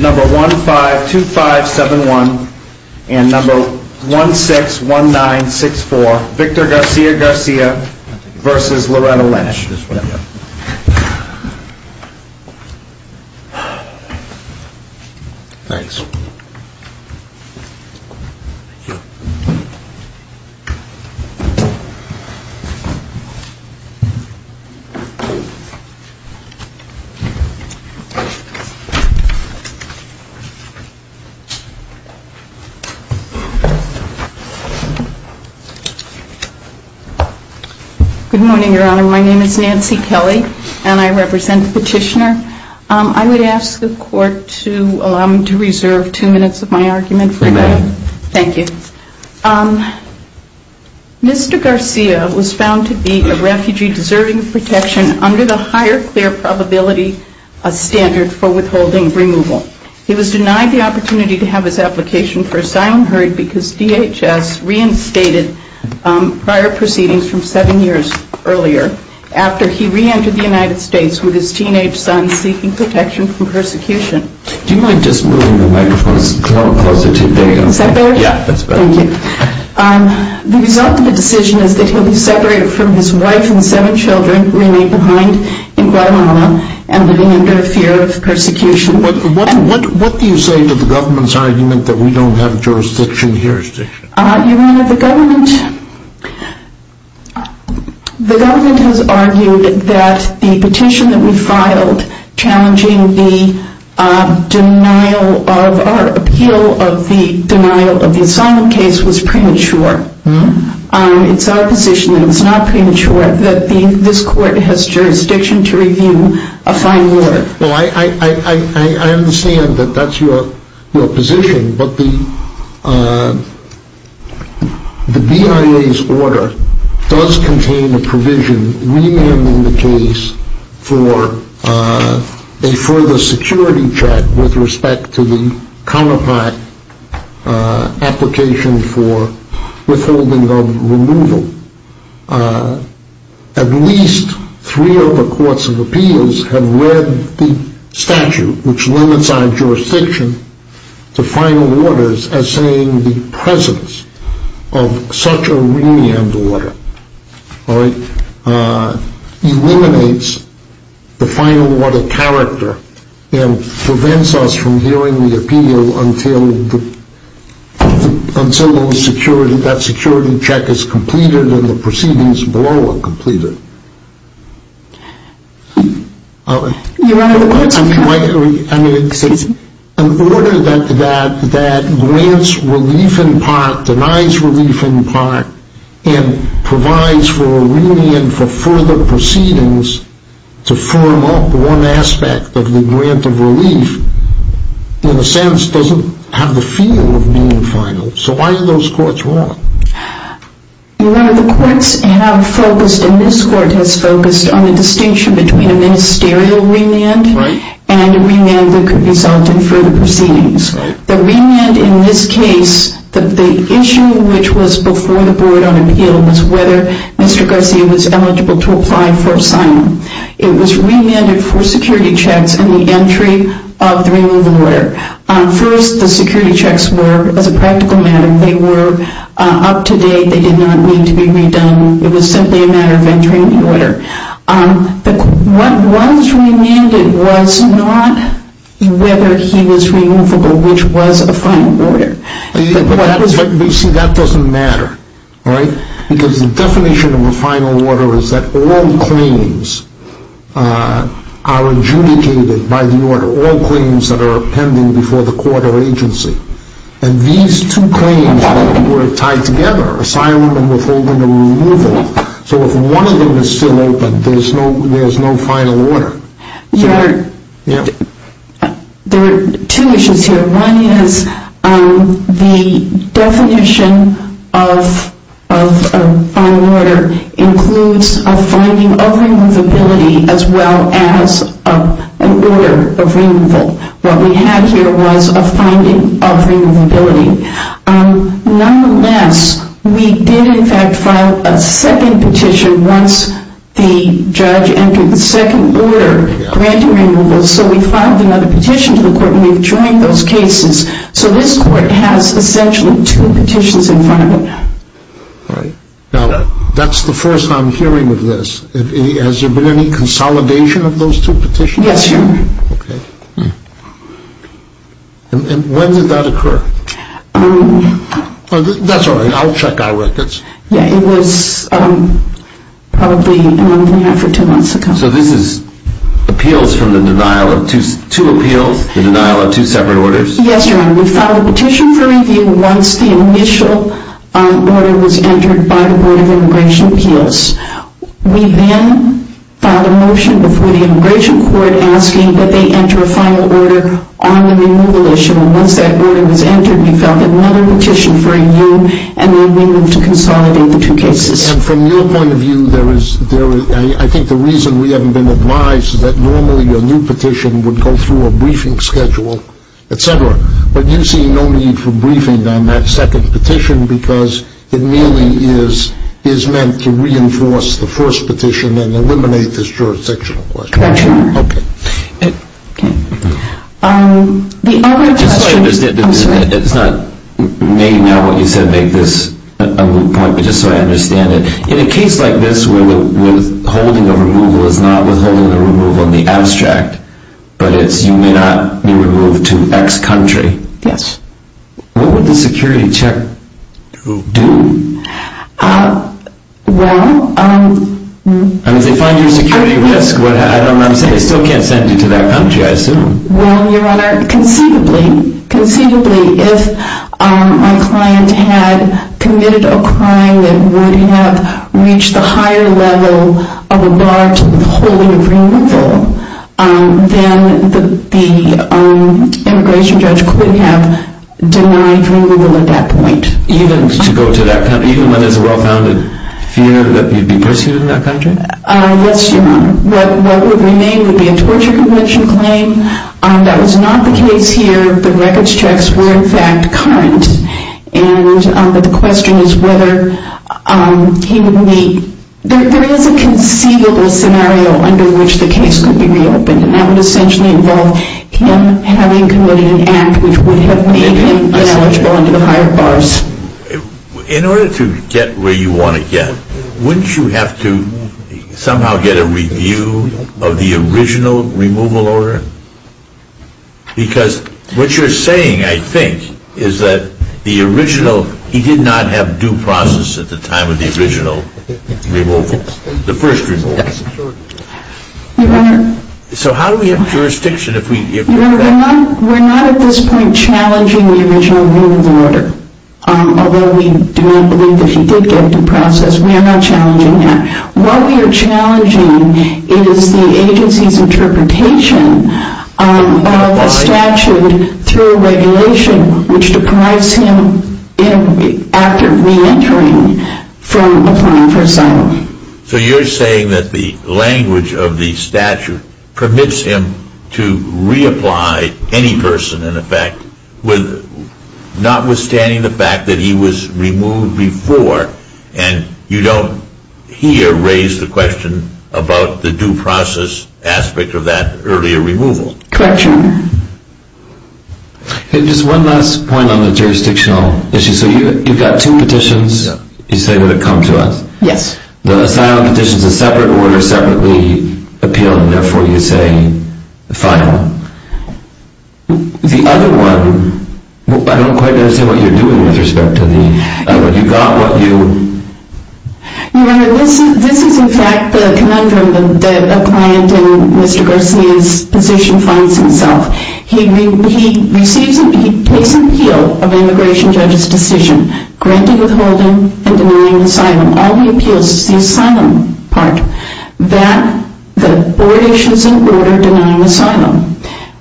number 1 5 2 5 7 1 and number 1 6 1 9 6 4 Victor Garcia Garcia versus Loretta Lynch Thanks Good morning, your honor. My name is Nancy Kelly and I represent the petitioner. I would ask the court to allow me to reserve two minutes of my argument. Thank you. Mr. Garcia was found to be a refugee deserving of protection under the higher fair probability standard for withholding removal. He was denied the opportunity to have his application for asylum heard because DHS reinstated prior proceedings from seven years earlier after he reentered the United States with his teenage son seeking protection from persecution. Do you mind just moving the microphone a little closer to you? Is that better? Yeah, that's better. The result of the decision is that he will be separated from his wife and seven children who remain behind in Guatemala and living under fear of persecution. What do you say to the government's argument that we don't have jurisdiction? Your honor, the government has argued that the petition that we filed challenging the appeal of the denial of the asylum case was jurisdiction to review a final order. Well, I understand that that's your position, but the BIA's order does contain a provision remanding the case for a further security check with respect to the counterpart application for withholding of removal. At least three of the courts of appeals have read the statute which limits our jurisdiction to final orders as saying the presence of such a remand order eliminates the final order character and prevents us from hearing the appeal until that security check is completed. In order that grants relief in part, denies relief in part, and provides for a remand for further proceedings to firm up one aspect of the grant of relief, in a sense doesn't have the feel of being final. So why do those courts want? Your honor, the courts have focused and this court has focused on the distinction between a ministerial remand and a remand that could result in further proceedings. The remand in this case, the issue which was before the board on appeal was whether Mr. Garcia was eligible to apply for asylum. It was remanded for security checks and the entry of the removal order. First, the security checks were, as a practical matter, they were up to date. They did not need to be redone. It was simply a matter of entering the order. What was remanded was not whether he was removable, which was a final order. You see, that doesn't matter. Because the definition of a final order is that all claims are adjudicated by the order, all claims that are pending before the court or agency. And these two claims were tied together, asylum and withholding and removal. So if one of them is still open, there is no final order. Your honor, there are two issues here. One is the definition of a final order includes a finding of removability as well as an order of removal. What we have here was a finding of removability. Nonetheless, we did in fact file a second petition once the judge entered the second order granting removal. So we filed another petition to the court and we've joined those cases. So this court has essentially two petitions in front of it. Right. Now, that's the first I'm hearing of this. Has there been any consolidation of those two petitions? Yes, your honor. Okay. And when did that occur? That's all right. I'll check our records. Yeah, it was probably a month and a half or two months ago. So this is appeals from the denial of two appeals, the denial of two separate orders? Yes, your honor. We filed a petition for review once the initial order was entered by the board of immigration appeals. We then filed a motion before the immigration court asking that they enter a final order on the removal issue. Once that order was entered, we filed another petition for review and then we moved to consolidate the two cases. And from your point of view, I think the reason we haven't been advised is that normally a new petition would go through a briefing schedule, etc. But you see no need for briefing on that second petition because it merely is meant to reinforce the first petition and eliminate this jurisdictional question. Correct, your honor. Okay. The other question... Just so I understand, it's not maybe not what you said made this a moot point, but just so I understand it. In a case like this where withholding a removal is not withholding a removal in the abstract, but it's you may not be removed to X country. Yes. What would the security check do? Well... If they find your security risk, I still can't send you to that country, I assume. Well, your honor, conceivably, conceivably, if my client had committed a crime that would have reached the higher level of a large withholding of removal, then the immigration judge could have denied removal at that point. Even to go to that country, even when there's a well-founded fear that he'd be pursued in that country? Yes, your honor. What would remain would be a torture convention claim. That was not the case here. The records checks were, in fact, current. And the question is whether he would meet... There is a conceivable scenario under which the case could be reopened, and that would essentially involve him having committed an act which would have made him eligible under the higher bars. In order to get where you want to get, wouldn't you have to somehow get a review of the original removal order? Because what you're saying, I think, is that the original, he did not have due process at the time of the original removal, the first removal. Your honor... So how do we have jurisdiction if we... Your honor, we're not at this point challenging the original removal order, although we do not believe that he did get due process. We are not challenging that. What we are challenging is the agency's interpretation of a statute through a regulation which deprives him after re-entering from applying for asylum. So you're saying that the language of the statute permits him to reapply any person, in effect, notwithstanding the fact that he was removed before, and you don't here raise the question about the due process aspect of that earlier removal? Correct, your honor. Just one last point on the jurisdictional issue. So you've got two petitions, you say, that have come to us? Yes. The asylum petition is a separate order, separately appealed, and therefore you say, final. The other one, I don't quite understand what you're doing with respect to the... You got what you... Your honor, this is in fact the conundrum that a client in Mr. Garcia's position finds himself. He takes an appeal of an immigration judge's decision, granting withholding and denying asylum. All he appeals is the asylum part. That, the board issues an order denying asylum.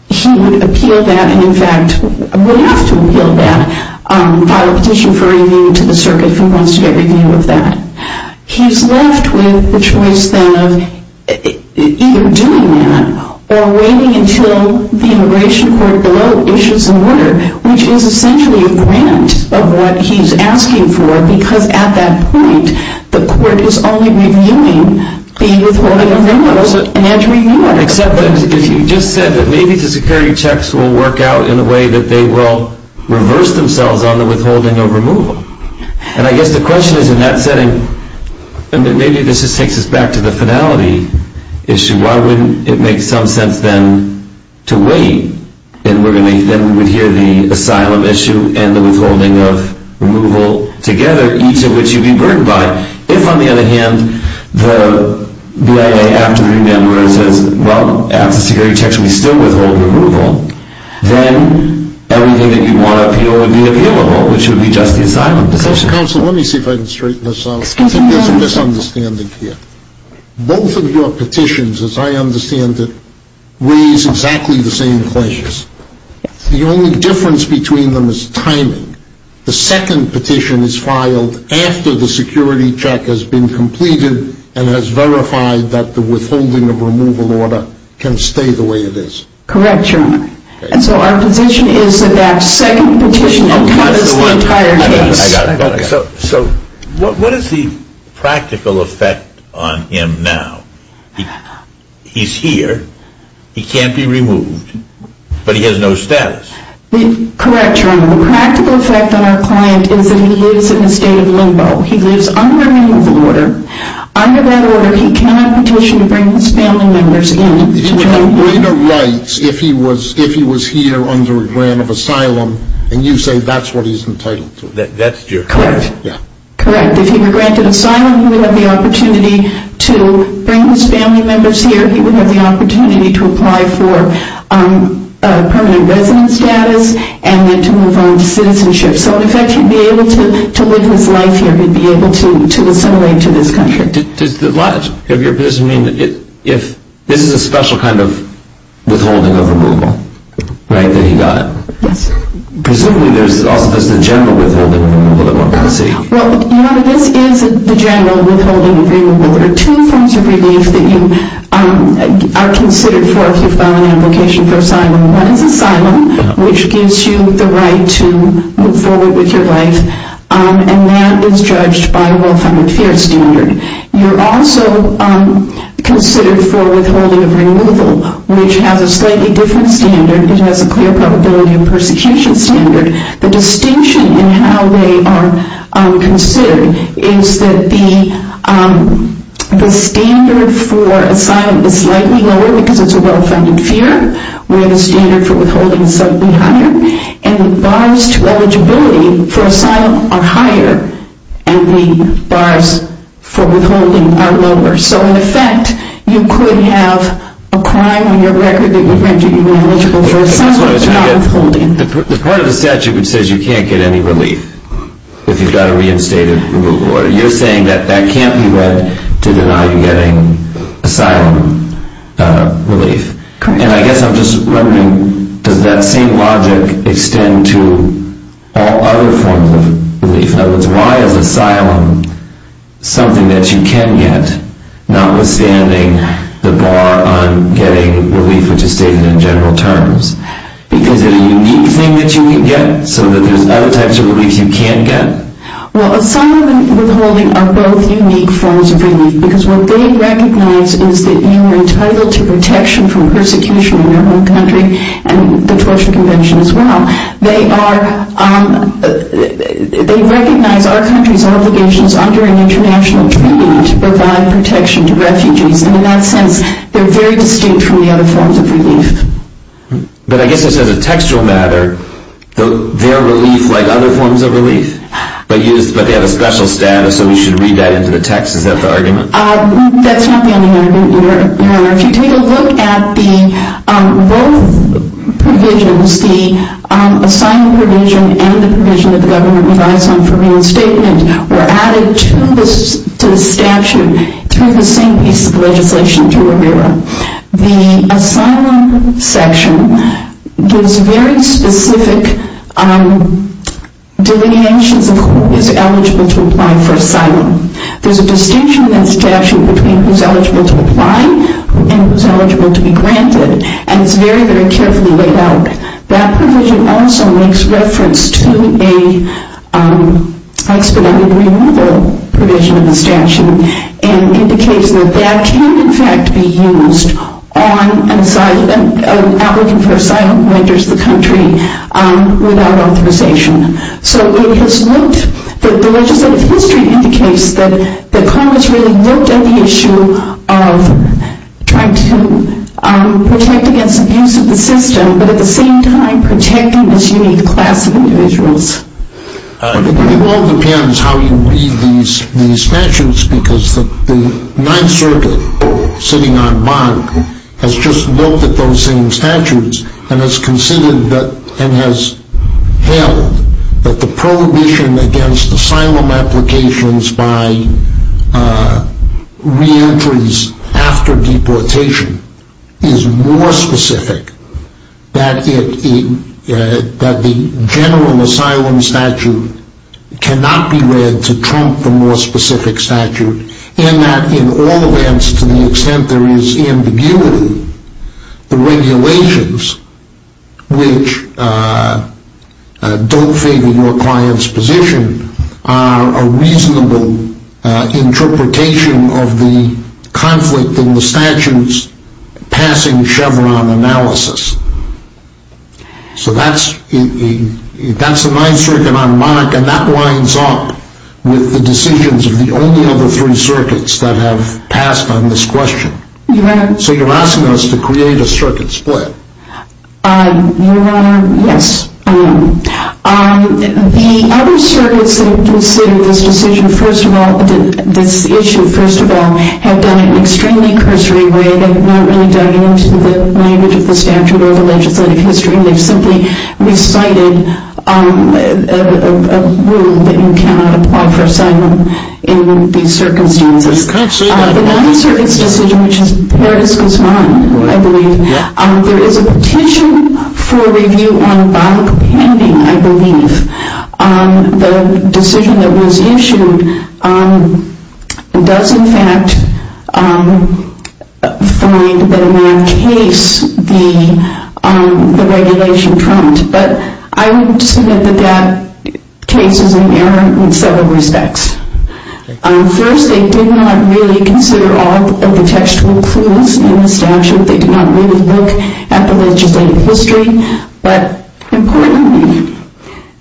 He would appeal that, and in fact, would have to appeal that, file a petition for review to the circuit if he wants to get review of that. He's left with the choice, then, of either doing that, or waiting until the immigration court below issues an order, which is essentially a grant of what he's asking for, because at that point, the court is only reviewing the withholding of removals and had to review them. Except that, as you just said, that maybe the security checks will work out in a way that they will reverse themselves on the withholding or removal. And I guess the question is, in that setting, maybe this just takes us back to the finality issue. Why wouldn't it make some sense, then, to wait? Then we would hear the asylum issue and the withholding of removal together, each of which you'd be burdened by. If, on the other hand, the BIA, after the remand order, says, well, after security checks, we still withhold removal, then everything that you want to appeal would be available, which would be just the asylum petition. Counsel, let me see if I can straighten this out. There's a misunderstanding here. Both of your petitions, as I understand it, raise exactly the same questions. The only difference between them is timing. The second petition is filed after the security check has been completed and has verified that the withholding of removal order can stay the way it is. Correct, your honor. And so our position is that that second petition covers the entire case. So, what is the practical effect on him now? He's here. He can't be removed. But he has no status. Correct, your honor. The practical effect on our client is that he lives in a state of limbo. He lives under a removal order. Under that order, he cannot petition to bring his family members in. He'd have greater rights if he was here under a grant of asylum and you say that's what he's entitled to. Correct. If he were granted asylum, he would have the opportunity to bring his family members here. He would have the opportunity to apply for permanent residence status and then to move on to citizenship. So, in effect, he'd be able to live his life here. He'd be able to assimilate to this country. Does this mean that this is a special kind of withholding of removal that he got? Yes. Presumably, there's also just a general withholding of removal that one can see. There are two forms of relief that you are considered for if you file an invocation for asylum. One is asylum, which gives you the right to move forward with your life. And that is judged by a well-founded fear standard. You're also considered for withholding of removal, which has a slightly different standard. It has a clear probability of persecution standard. The distinction in how they are considered is that the standard for asylum is slightly lower because it's a well-founded fear. Where the standard for withholding is slightly higher. And the bars to eligibility for asylum are higher. And the bars for withholding are lower. So, in effect, you could have a crime on your record that would render you ineligible for asylum and not withholding. The part of the statute that says you can't get any relief if you've got a reinstated removal order, you're saying that that can't be read to deny you getting asylum relief. And I guess I'm just wondering, does that same logic extend to all other forms of relief? In other words, why is asylum something that you can get, notwithstanding the bar on getting relief, which is stated in general terms? Because it's a unique thing that you can get, so that there's other types of relief you can get? Well, asylum and withholding are both unique forms of relief. Because what they recognize is that you are entitled to protection from persecution in your own country, and the Torture Convention as well. They recognize our country's obligations under an international treaty to provide protection to refugees. And in that sense, they're very distinct from the other forms of relief. But I guess this as a textual matter, they're relief like other forms of relief, but they have a special status, so we should read that into the text. Is that the argument? That's not the only argument, Your Honor. If you take a look at both provisions, the asylum provision and the provision that the government provides on for reinstatement, were added to the statute through the same piece of legislation to Amira. The asylum section gives very specific delineations of who is eligible to apply for asylum. There's a distinction in that statute between who's eligible to apply and who's eligible to be granted, and it's very, very carefully laid out. That provision also makes reference to an expedited removal provision in the statute, and indicates that that can, in fact, be used on an applicant for asylum who enters the country without authorization. So it has looked, the legislative history indicates that Congress really looked at the issue of trying to protect against abuse of the system, but at the same time protecting this unique class of individuals. It all depends how you read these statutes, because the Ninth Circuit sitting on bond has just looked at those same statutes and has considered and has held that the prohibition against asylum applications by re-entries after deportation is more specific, that the general asylum statute cannot be read to trump the more specific statute, and that in all events, to the extent there is ambiguity, the regulations which don't favor your client's position are a reasonable interpretation of the conflict in the statute's passing Chevron analysis. So that's the Ninth Circuit on Monarch, and that lines up with the decisions of the only other three circuits that have passed on this question. So you're asking us to create a circuit split? Your Honor, yes. The other circuits that considered this decision first of all, this issue first of all, have done it in an extremely cursory way. They've not really dug into the language of the statute or the legislative history, and they've simply recited a rule that you cannot apply for asylum in these circumstances. The Ninth Circuit's decision, which is Perez-Guzman, I believe, there is a petition for review on bond pending, I believe. The decision that was issued does in fact find that in that case the regulation trumped. But I would submit that that case is in error in several respects. First, they did not really consider all of the textual clues in the statute. They did not really look at the legislative history. But importantly,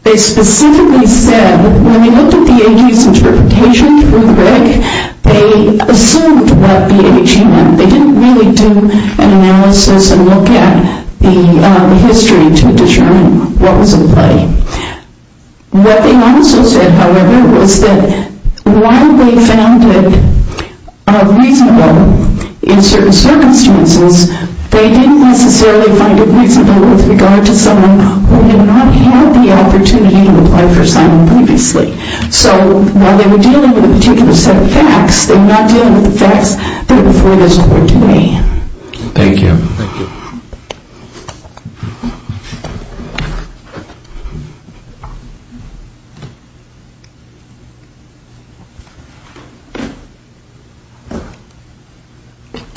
they specifically said when they looked at the AG's interpretation through the rig, they assumed what the AG meant. They didn't really do an analysis and look at the history to determine what was at play. What they also said, however, was that while they found it reasonable in certain circumstances, they didn't necessarily find it reasonable with regard to someone who did not have the opportunity to apply for asylum previously. So while they were dealing with a particular set of facts, they were not dealing with the facts that were before this court today. Thank you.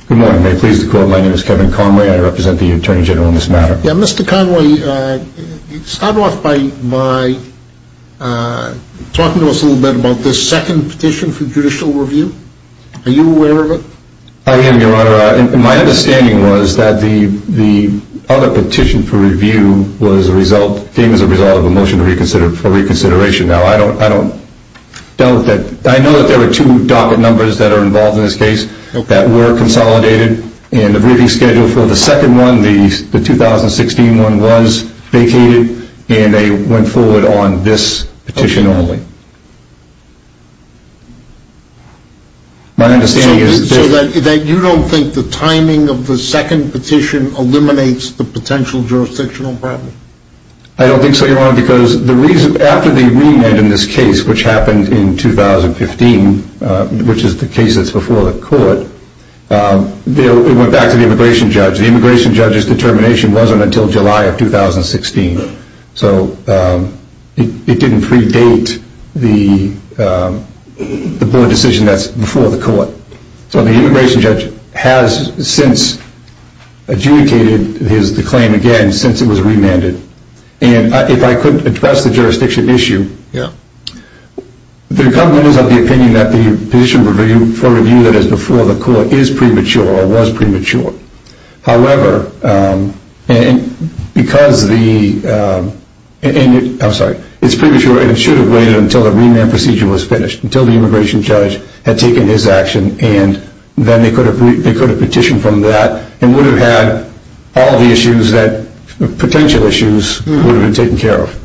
Good morning. My name is Kevin Conway. I represent the Attorney General in this matter. Mr. Conway, you started off by talking to us a little bit about this second petition for judicial review. Are you aware of it? I am, Your Honor. My understanding was that the other petition for review was a result, came as a result of a petition for judicial review. I have a motion for reconsideration now. I know that there were two docket numbers that are involved in this case that were consolidated. And the briefing schedule for the second one, the 2016 one, was vacated. And they went forward on this petition only. So you don't think the timing of the second petition eliminates the potential jurisdictional problem? I don't think so, Your Honor. Because after the remand in this case, which happened in 2015, which is the case that's before the court, it went back to the immigration judge. The immigration judge's determination wasn't until July of 2016. So it didn't predate the board decision that's before the court. So the immigration judge has since adjudicated his claim again since it was remanded. And if I could address the jurisdiction issue, the government is of the opinion that the petition for review that is before the court is premature or was premature. However, because the... I'm sorry. It's premature and it should have waited until the remand procedure was finished, until the immigration judge had taken his action, and then they could have petitioned from that and would have had all the issues, potential issues, would have been taken care of.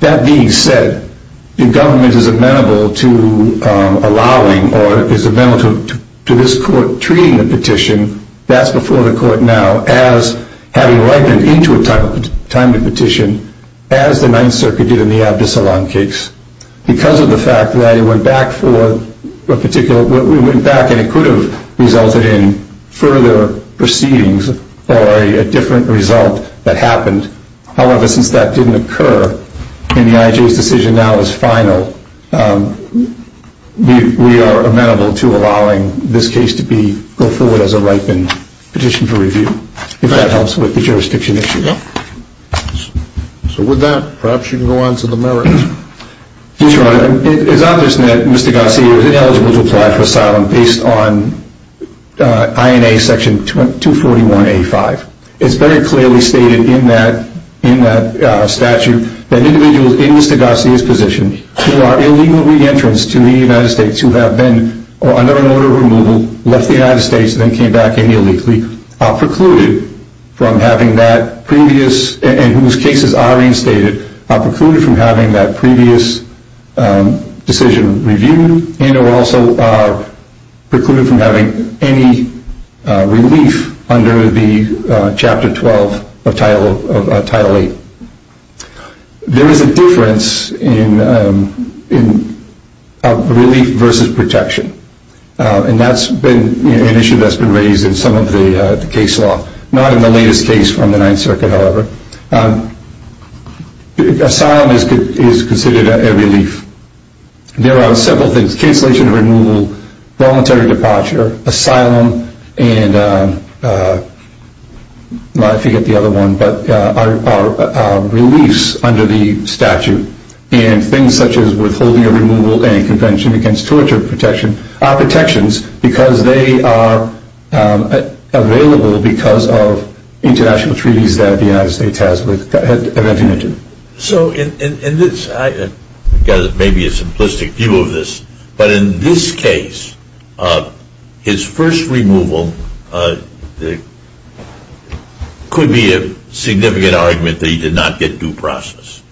That being said, the government is amenable to allowing or is amenable to this court treating the petition that's before the court now as having ripened into a timely petition, as the Ninth Circuit did in the Abdus Salaam case. Because of the fact that it went back for a particular... It went back and it could have resulted in further proceedings or a different result that happened. However, since that didn't occur and the IJ's decision now is final, we are amenable to allowing this case to go forward as a ripened petition for review, if that helps with the jurisdiction issue. So with that, perhaps you can go on to the merits. Your Honor, it is obvious that Mr. Garcia is ineligible to apply for asylum based on INA section 241A5. It's very clearly stated in that statute that individuals in Mr. Garcia's position who are illegal re-entrants to the United States who have been under an order of removal, left the United States and then came back illegally are precluded from having that previous... and whose cases are reinstated are precluded from having that previous decision reviewed and are also precluded from having any relief under the Chapter 12 of Title 8. There is a difference in relief versus protection. And that's been an issue that's been raised in some of the case law. Not in the latest case from the Ninth Circuit, however. Asylum is considered a relief. There are several things. Cancellation of removal, voluntary departure, asylum, and... I forget the other one, but are reliefs under the statute. And things such as withholding of removal and Convention Against Torture are protections because they are available because of international treaties that the United States has with... So, in this, I've got maybe a simplistic view of this, but in this case, his first removal could be a significant argument that he did not get due process.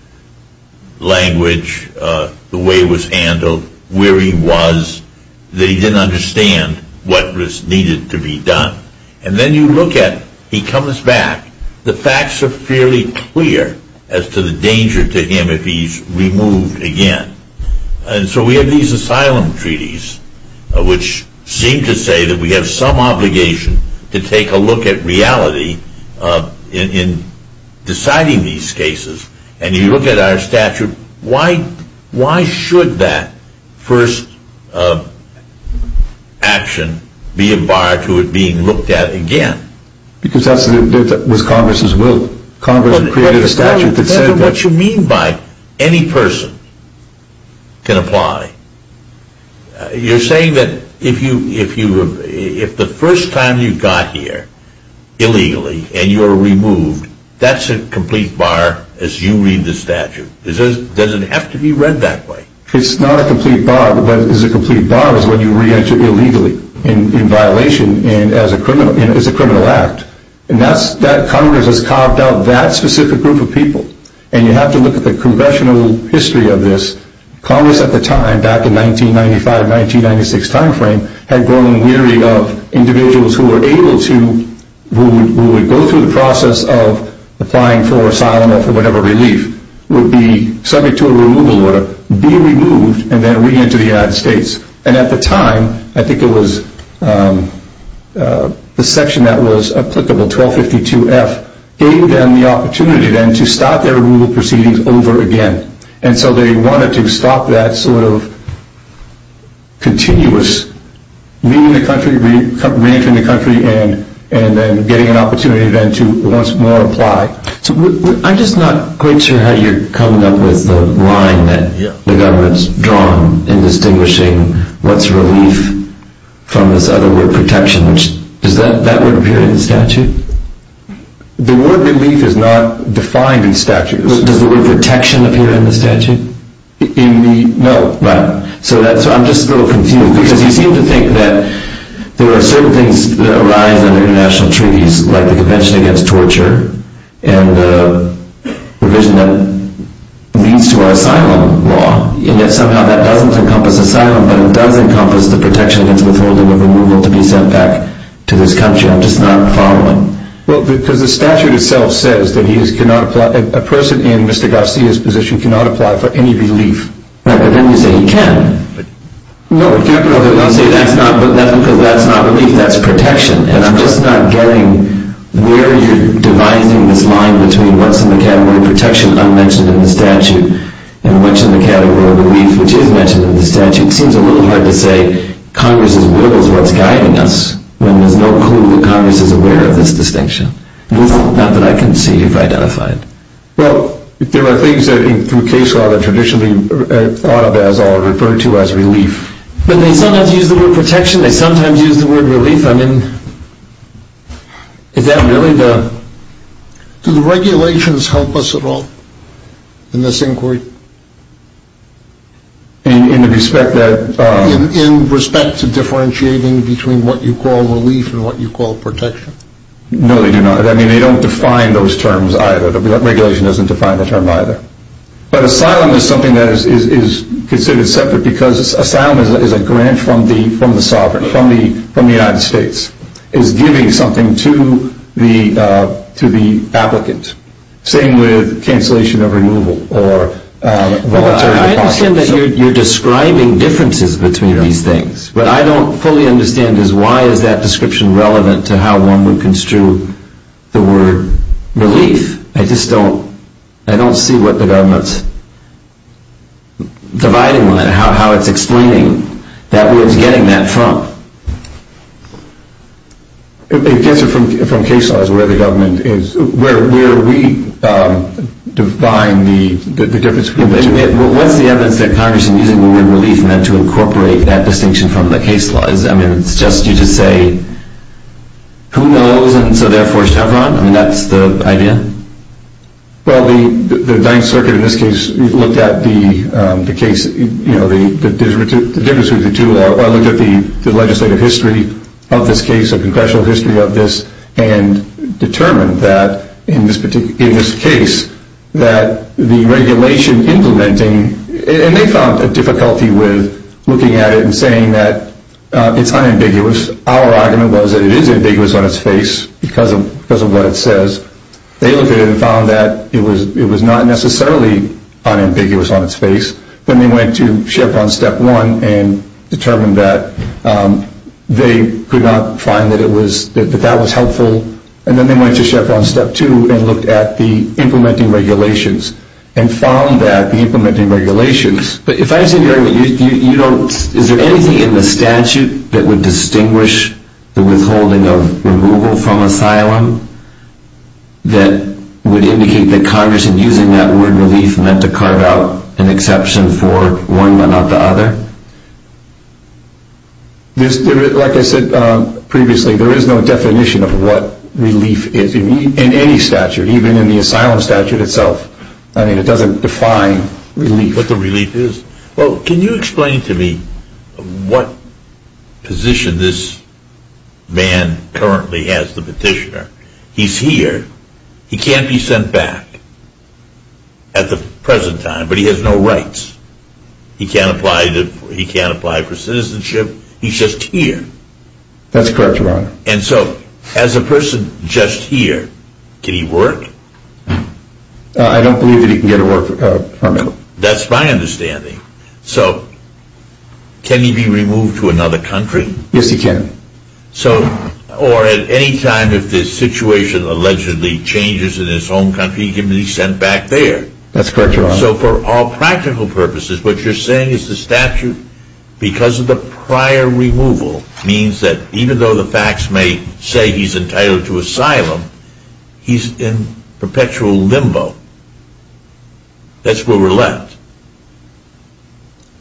Language, the way it was handled, where he was, that he didn't understand what was needed to be done. And then you look at, he comes back, the facts are fairly clear as to the danger to him if he's removed again. And so we have these asylum treaties which seem to say that we have some obligation to take a look at reality in deciding these cases. And you look at our statute, why should that first action be a bar to it being looked at again? Because that was Congress's will. Congress created a statute that said... What you mean by any person can apply. You're saying that if the first time you got here, illegally, and you're removed, that's a complete bar as you read the statute. Does it have to be read that way? It's not a complete bar. What is a complete bar is when you re-enter illegally, in violation, and as a criminal act. And that's... Congress has carved out that specific group of people. And you have to look at the congressional history of this. Congress at the time, back in 1995-1996 timeframe, had grown weary of individuals who were able to... who would go through the process of applying for asylum or for whatever relief, would be subject to a removal order, be removed, and then re-enter the United States. And at the time, I think it was the section that was applicable, 1252F, gave them the opportunity then to start their removal proceedings over again. And so they wanted to stop that sort of continuous re-entering the country, and then getting an opportunity then to once more apply. I'm just not quite sure how you're coming up with the line that the government's drawn in distinguishing what's relief from this other word, protection. Does that word appear in the statute? The word relief is not defined in statute. Does the word protection appear in the statute? No. Right. So I'm just a little confused. Because you seem to think that there are certain things that arise under international treaties, like the Convention Against Torture, and the provision that leads to our asylum law. And yet somehow that doesn't encompass asylum, but it does encompass the protection against withholding or removal to be sent back to this country. I'm just not following. Well, because the statute itself says that a person in Mr. Garcia's position cannot apply for any relief. Right, but then you say he can. No, I'm saying that's not relief, that's protection. And I'm just not getting where you're devising this line between what's in the category of protection unmentioned in the statute, and what's in the category of relief which is mentioned in the statute. It seems a little hard to say Congress's will is what's guiding us, when there's no clue that Congress is aware of this distinction. Not that I can see if identified. Well, there are things that through case law that traditionally are thought of as or referred to as relief. But they sometimes use the word protection, they sometimes use the word relief. I mean, is that really the... Do the regulations help us at all in this inquiry? In the respect that... In respect to differentiating between what you call relief and what you call protection? No, they do not. I mean, they don't define those terms either. The regulation doesn't define the term either. But asylum is something that is considered separate because asylum is a grant from the sovereign, from the United States. It's giving something to the applicant. Same with cancellation of removal or voluntary... I understand that you're describing differences between these things. What I don't fully understand is why is that description relevant to how one would construe the word relief? I just don't... I don't see what the government's dividing line, how it's explaining that we're getting that from. It gets it from case laws where the government is... Where we define the difference between the two. What's the evidence that Congress is using the word relief meant to incorporate that distinction from the case laws? I mean, it's just you to say, who knows, and so therefore Chevron? I mean, that's the idea? Well, the 9th Circuit in this case looked at the case... The difference between the two... Looked at the legislative history of this case, the congressional history of this, and determined that in this case that the regulation implementing... And they found a difficulty with looking at it and saying that it's unambiguous. Our argument was that it is ambiguous on its face because of what it says. They looked at it and found that it was not necessarily unambiguous on its face. Then they went to Chevron Step 1 and determined that they could not find that it was... That that was helpful. And then they went to Chevron Step 2 and looked at the implementing regulations. And found that the implementing regulations... But if I understand your argument, you don't... Is there anything in the statute that would distinguish the withholding of removal from asylum? That would indicate that Congress, in using that word relief, meant to carve out an exception for one but not the other? Like I said previously, there is no definition of what relief is in any statute, even in the asylum statute itself. I mean, it doesn't define relief. What the relief is... Well, can you explain to me what position this man currently has, the petitioner? He's here. He can't be sent back at the present time, but he has no rights. He can't apply for citizenship. He's just here. That's correct, Your Honor. And so, as a person just here, can he work? I don't believe that he can get a work permit. That's my understanding. So, can he be removed to another country? Yes, he can. So, or at any time, if the situation allegedly changes in his home country, he can be sent back there? That's correct, Your Honor. So, for all practical purposes, what you're saying is the statute, because of the prior removal, means that even though the facts may say he's entitled to asylum, he's in perpetual limbo. That's where we're left.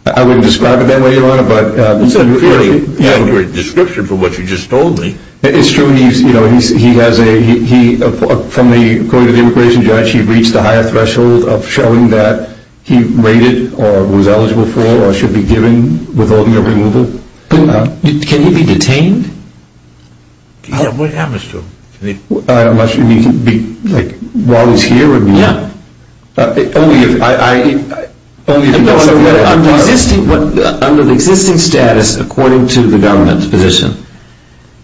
I wouldn't describe it that way, Your Honor, but... That's a pretty accurate description for what you just told me. It's true. He has a... From the court of immigration judge, he reached a higher threshold of showing that he's rated or was eligible for or should be given with holding of removal. Can he be detained? What happens to him? Unless you mean, like, while he's here? Yeah. Under the existing status, according to the government's position,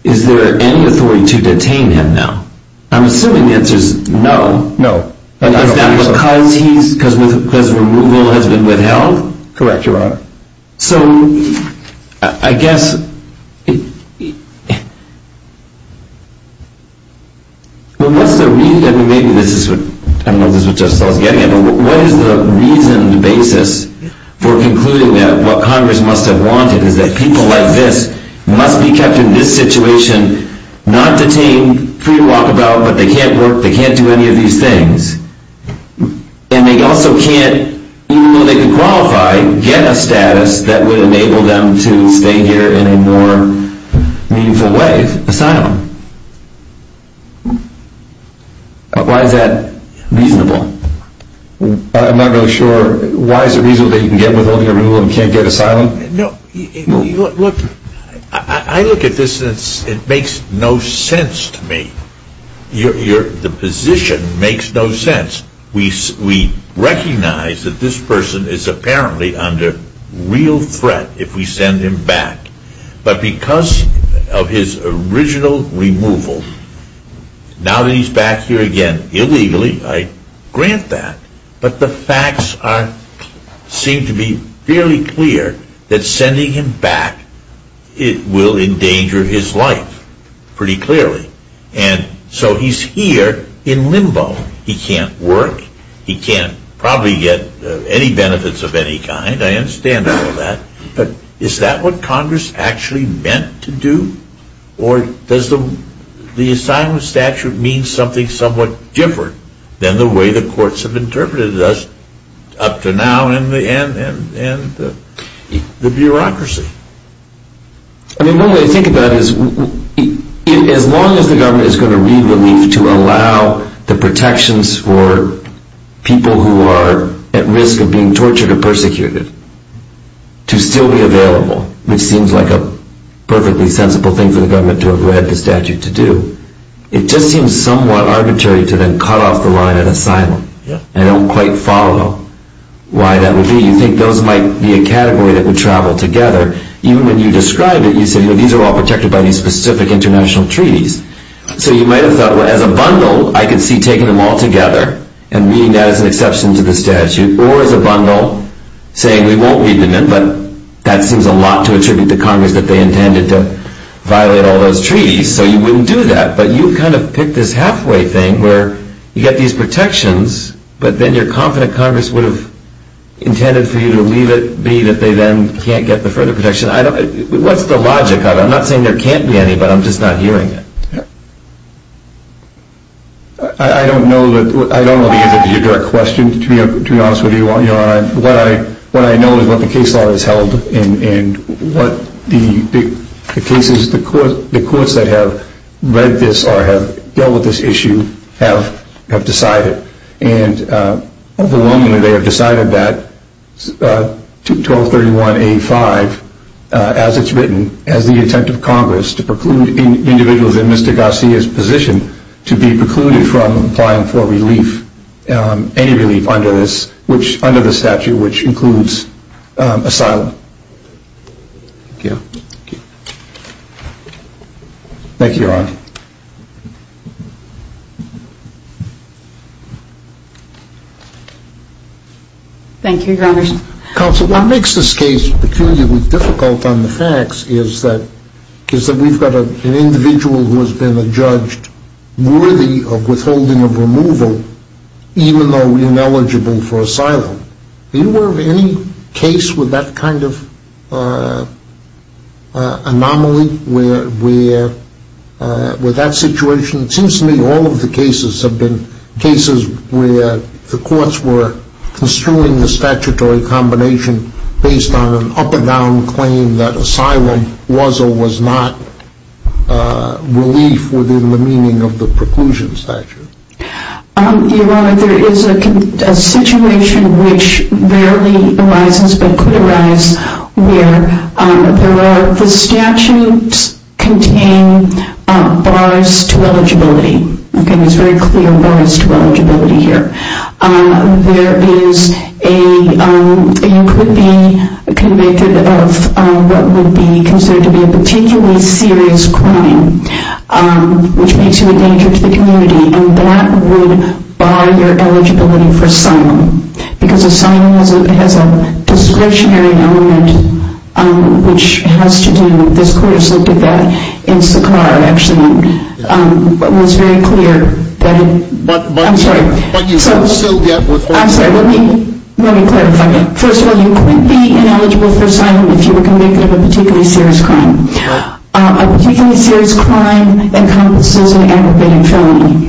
is there any authority to detain him now? I'm assuming the answer is no. No. Is that because removal has been withheld? Correct, Your Honor. So, I guess... Well, what's the reason? I mean, maybe this is what... I don't know if this is what Judge Stahl is getting at, but what is the reason, the basis for concluding that what Congress must have wanted is that people like this must be kept in this situation, not detained, free to walk about, but they can't work, they can't do any of these things. And they also can't, even though they can qualify, get a status that would enable them to stay here in a more meaningful way, asylum. Why is that reasonable? I'm not really sure. Why is it reasonable that you can get withholding of removal and can't get asylum? No, look, I look at this and it makes no sense to me. The position makes no sense. We recognize that this person is apparently under real threat if we send him back. But because of his original removal, now that he's back here again, illegally, I grant that, but the facts seem to be fairly clear that sending him back will endanger his life, pretty clearly. And so he's here in limbo. He can't work, he can't probably get any benefits of any kind, I understand all that, but is that what Congress actually meant to do? Or does the asylum statute mean something somewhat different than the way the courts have interpreted us up to now and the bureaucracy? I mean, one way to think about it is, as long as the government is going to read relief to allow the protections for people who are at risk of being tortured or persecuted to still be available, which seems like a perfectly sensible thing for the government to have read the statute to do, it just seems somewhat arbitrary to then cut off the line at asylum and don't quite follow why that would be. You think those might be a category that would travel together. Even when you describe it, you say these are all protected by these specific international treaties. So you might have thought, well, as a bundle, I could see taking them all together and reading that as an exception to the statute, or as a bundle, saying we won't read them in, but that seems a lot to attribute to Congress that they intended to violate all those treaties, so you wouldn't do that. But you've kind of picked this halfway thing where you get these protections, but then you're confident Congress would have intended for you to leave it, be that they then can't get the further protection. What's the logic of it? I'm not saying there can't be any, but I'm just not hearing it. I don't know the answer to your direct question, to be honest with you. What I know is what the case law has held and what the cases, the courts that have read this or have dealt with this issue have decided. Overwhelmingly, they have decided that 1231A5, as it's written, has the intent of Congress to preclude individuals in Mr. Garcia's position to be precluded from applying for relief, any relief under the statute, which includes asylum. Thank you. Thank you, Your Honor. Thank you, Your Honor. Counsel, what makes this case peculiarly difficult on the facts is that we've got an individual who has been adjudged worthy of withholding of removal, even though he's ineligible for asylum. Are you aware of any case with that kind of anomaly, with that situation? It seems to me all of the cases have been cases where the courts were construing the statutory combination based on an up-and-down claim that asylum was or was not relief within the meaning of the preclusion statute. Your Honor, there is a situation which rarely arises, but could arise, where the statutes contain bars to eligibility. Okay, there's very clear bars to eligibility here. There is a, you could be convicted of what would be considered to be a particularly serious crime, which makes you a danger to the community, and that would bar your eligibility for asylum. Because asylum has a discretionary element which has to do, this court has looked at that in Sakhar, actually, but it was very clear that it, I'm sorry. But you still get withholding. I'm sorry, let me clarify. First of all, you couldn't be ineligible for asylum if you were convicted of a particularly serious crime. A particularly serious crime encompasses an aggravated felony.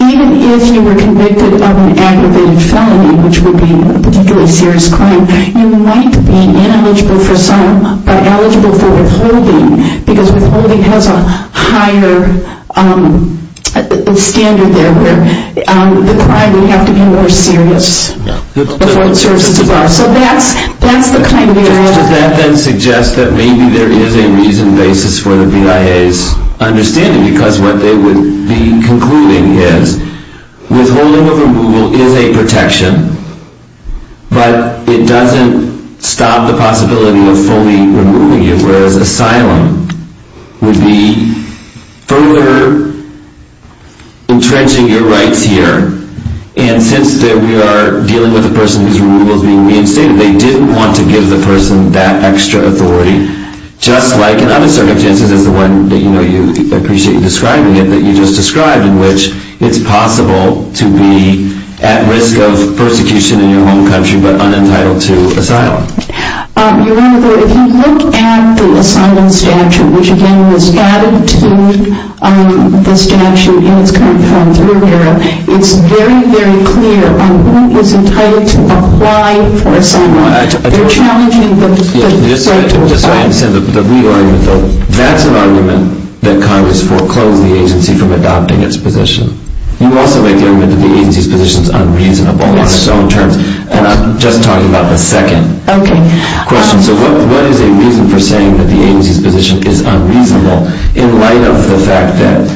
Even if you were convicted of an aggravated felony, which would be a particularly serious crime, you might be ineligible for asylum, or eligible for withholding, because withholding has a higher standard there where the crime would have to be more serious before it serves as a bar. So that's the kind of area. How does that then suggest that maybe there is a reason, basis for the BIA's understanding? Because what they would be concluding is, withholding of removal is a protection, but it doesn't stop the possibility of fully removing you, whereas asylum would be further entrenching your rights here. And since we are dealing with a person whose removal is being reinstated, they didn't want to give the person that extra authority, just like in other circumstances, as the one that you know you appreciate in describing it, that you just described, in which it's possible to be at risk of persecution in your home country, but unentitled to asylum. You're right there. If you look at the asylum statute, which again was added to the statute in its current form, it's very, very clear on who is entitled to apply for asylum. You're challenging the... Just so I understand, the legal argument though, that's an argument that Congress foreclosed the agency from adopting its position. You also make the argument that the agency's position is unreasonable on its own terms. And I'm just talking about the second question. So what is a reason for saying that the agency's position is unreasonable, in light of the fact that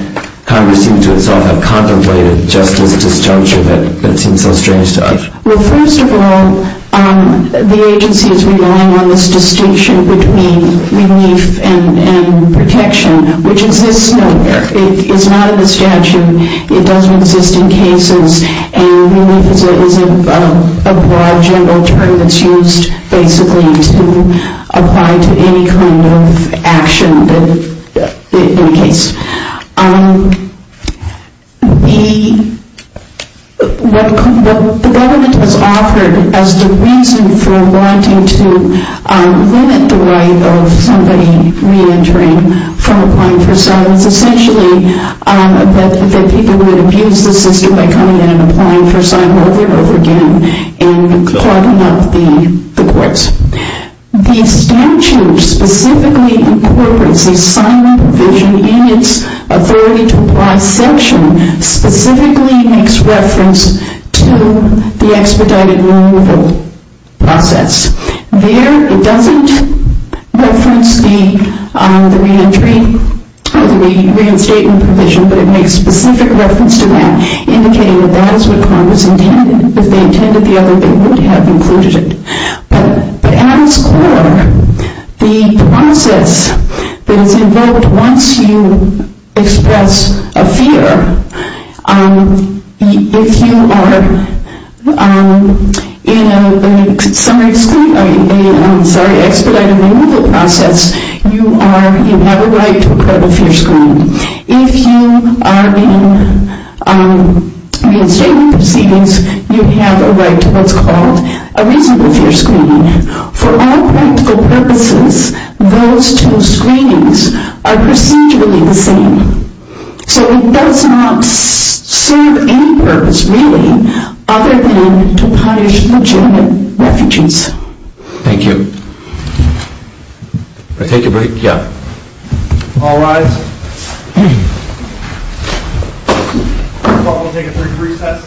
Congress seems to itself have contemplated just this disjuncture that seems so strange to us? Well, first of all, the agency is relying on this distinction between relief and protection, which exists nowhere. It's not in the statute. It doesn't exist in cases. And relief is a broad, general term that's used basically to apply to any kind of action in a case. What the government has offered as the reason for wanting to limit the right of somebody re-entering from applying for asylum is essentially that people would abuse the system by coming in and applying for asylum over and over again and clogging up the courts. The statute specifically incorporates the asylum provision in its authority to apply section specifically makes reference to the expedited removal process. There, it doesn't reference the re-entry or the reinstatement provision, but it makes specific reference to that, indicating that that is what Congress intended. If they intended the other, they would have included it. But at its core, the process that is involved once you express a fear, if you are in an expedited removal process, you have a right to a court of fierce crime. If you are in a reinstatement proceedings, you have a right to what's called a reasonable fear screening. For all practical purposes, those two screenings are procedurally the same. So it does not serve any purpose, really, other than to punish legitimate refugees. Thank you. I'll take a break. Yeah. All rise. We'll take a brief recess. Thank you.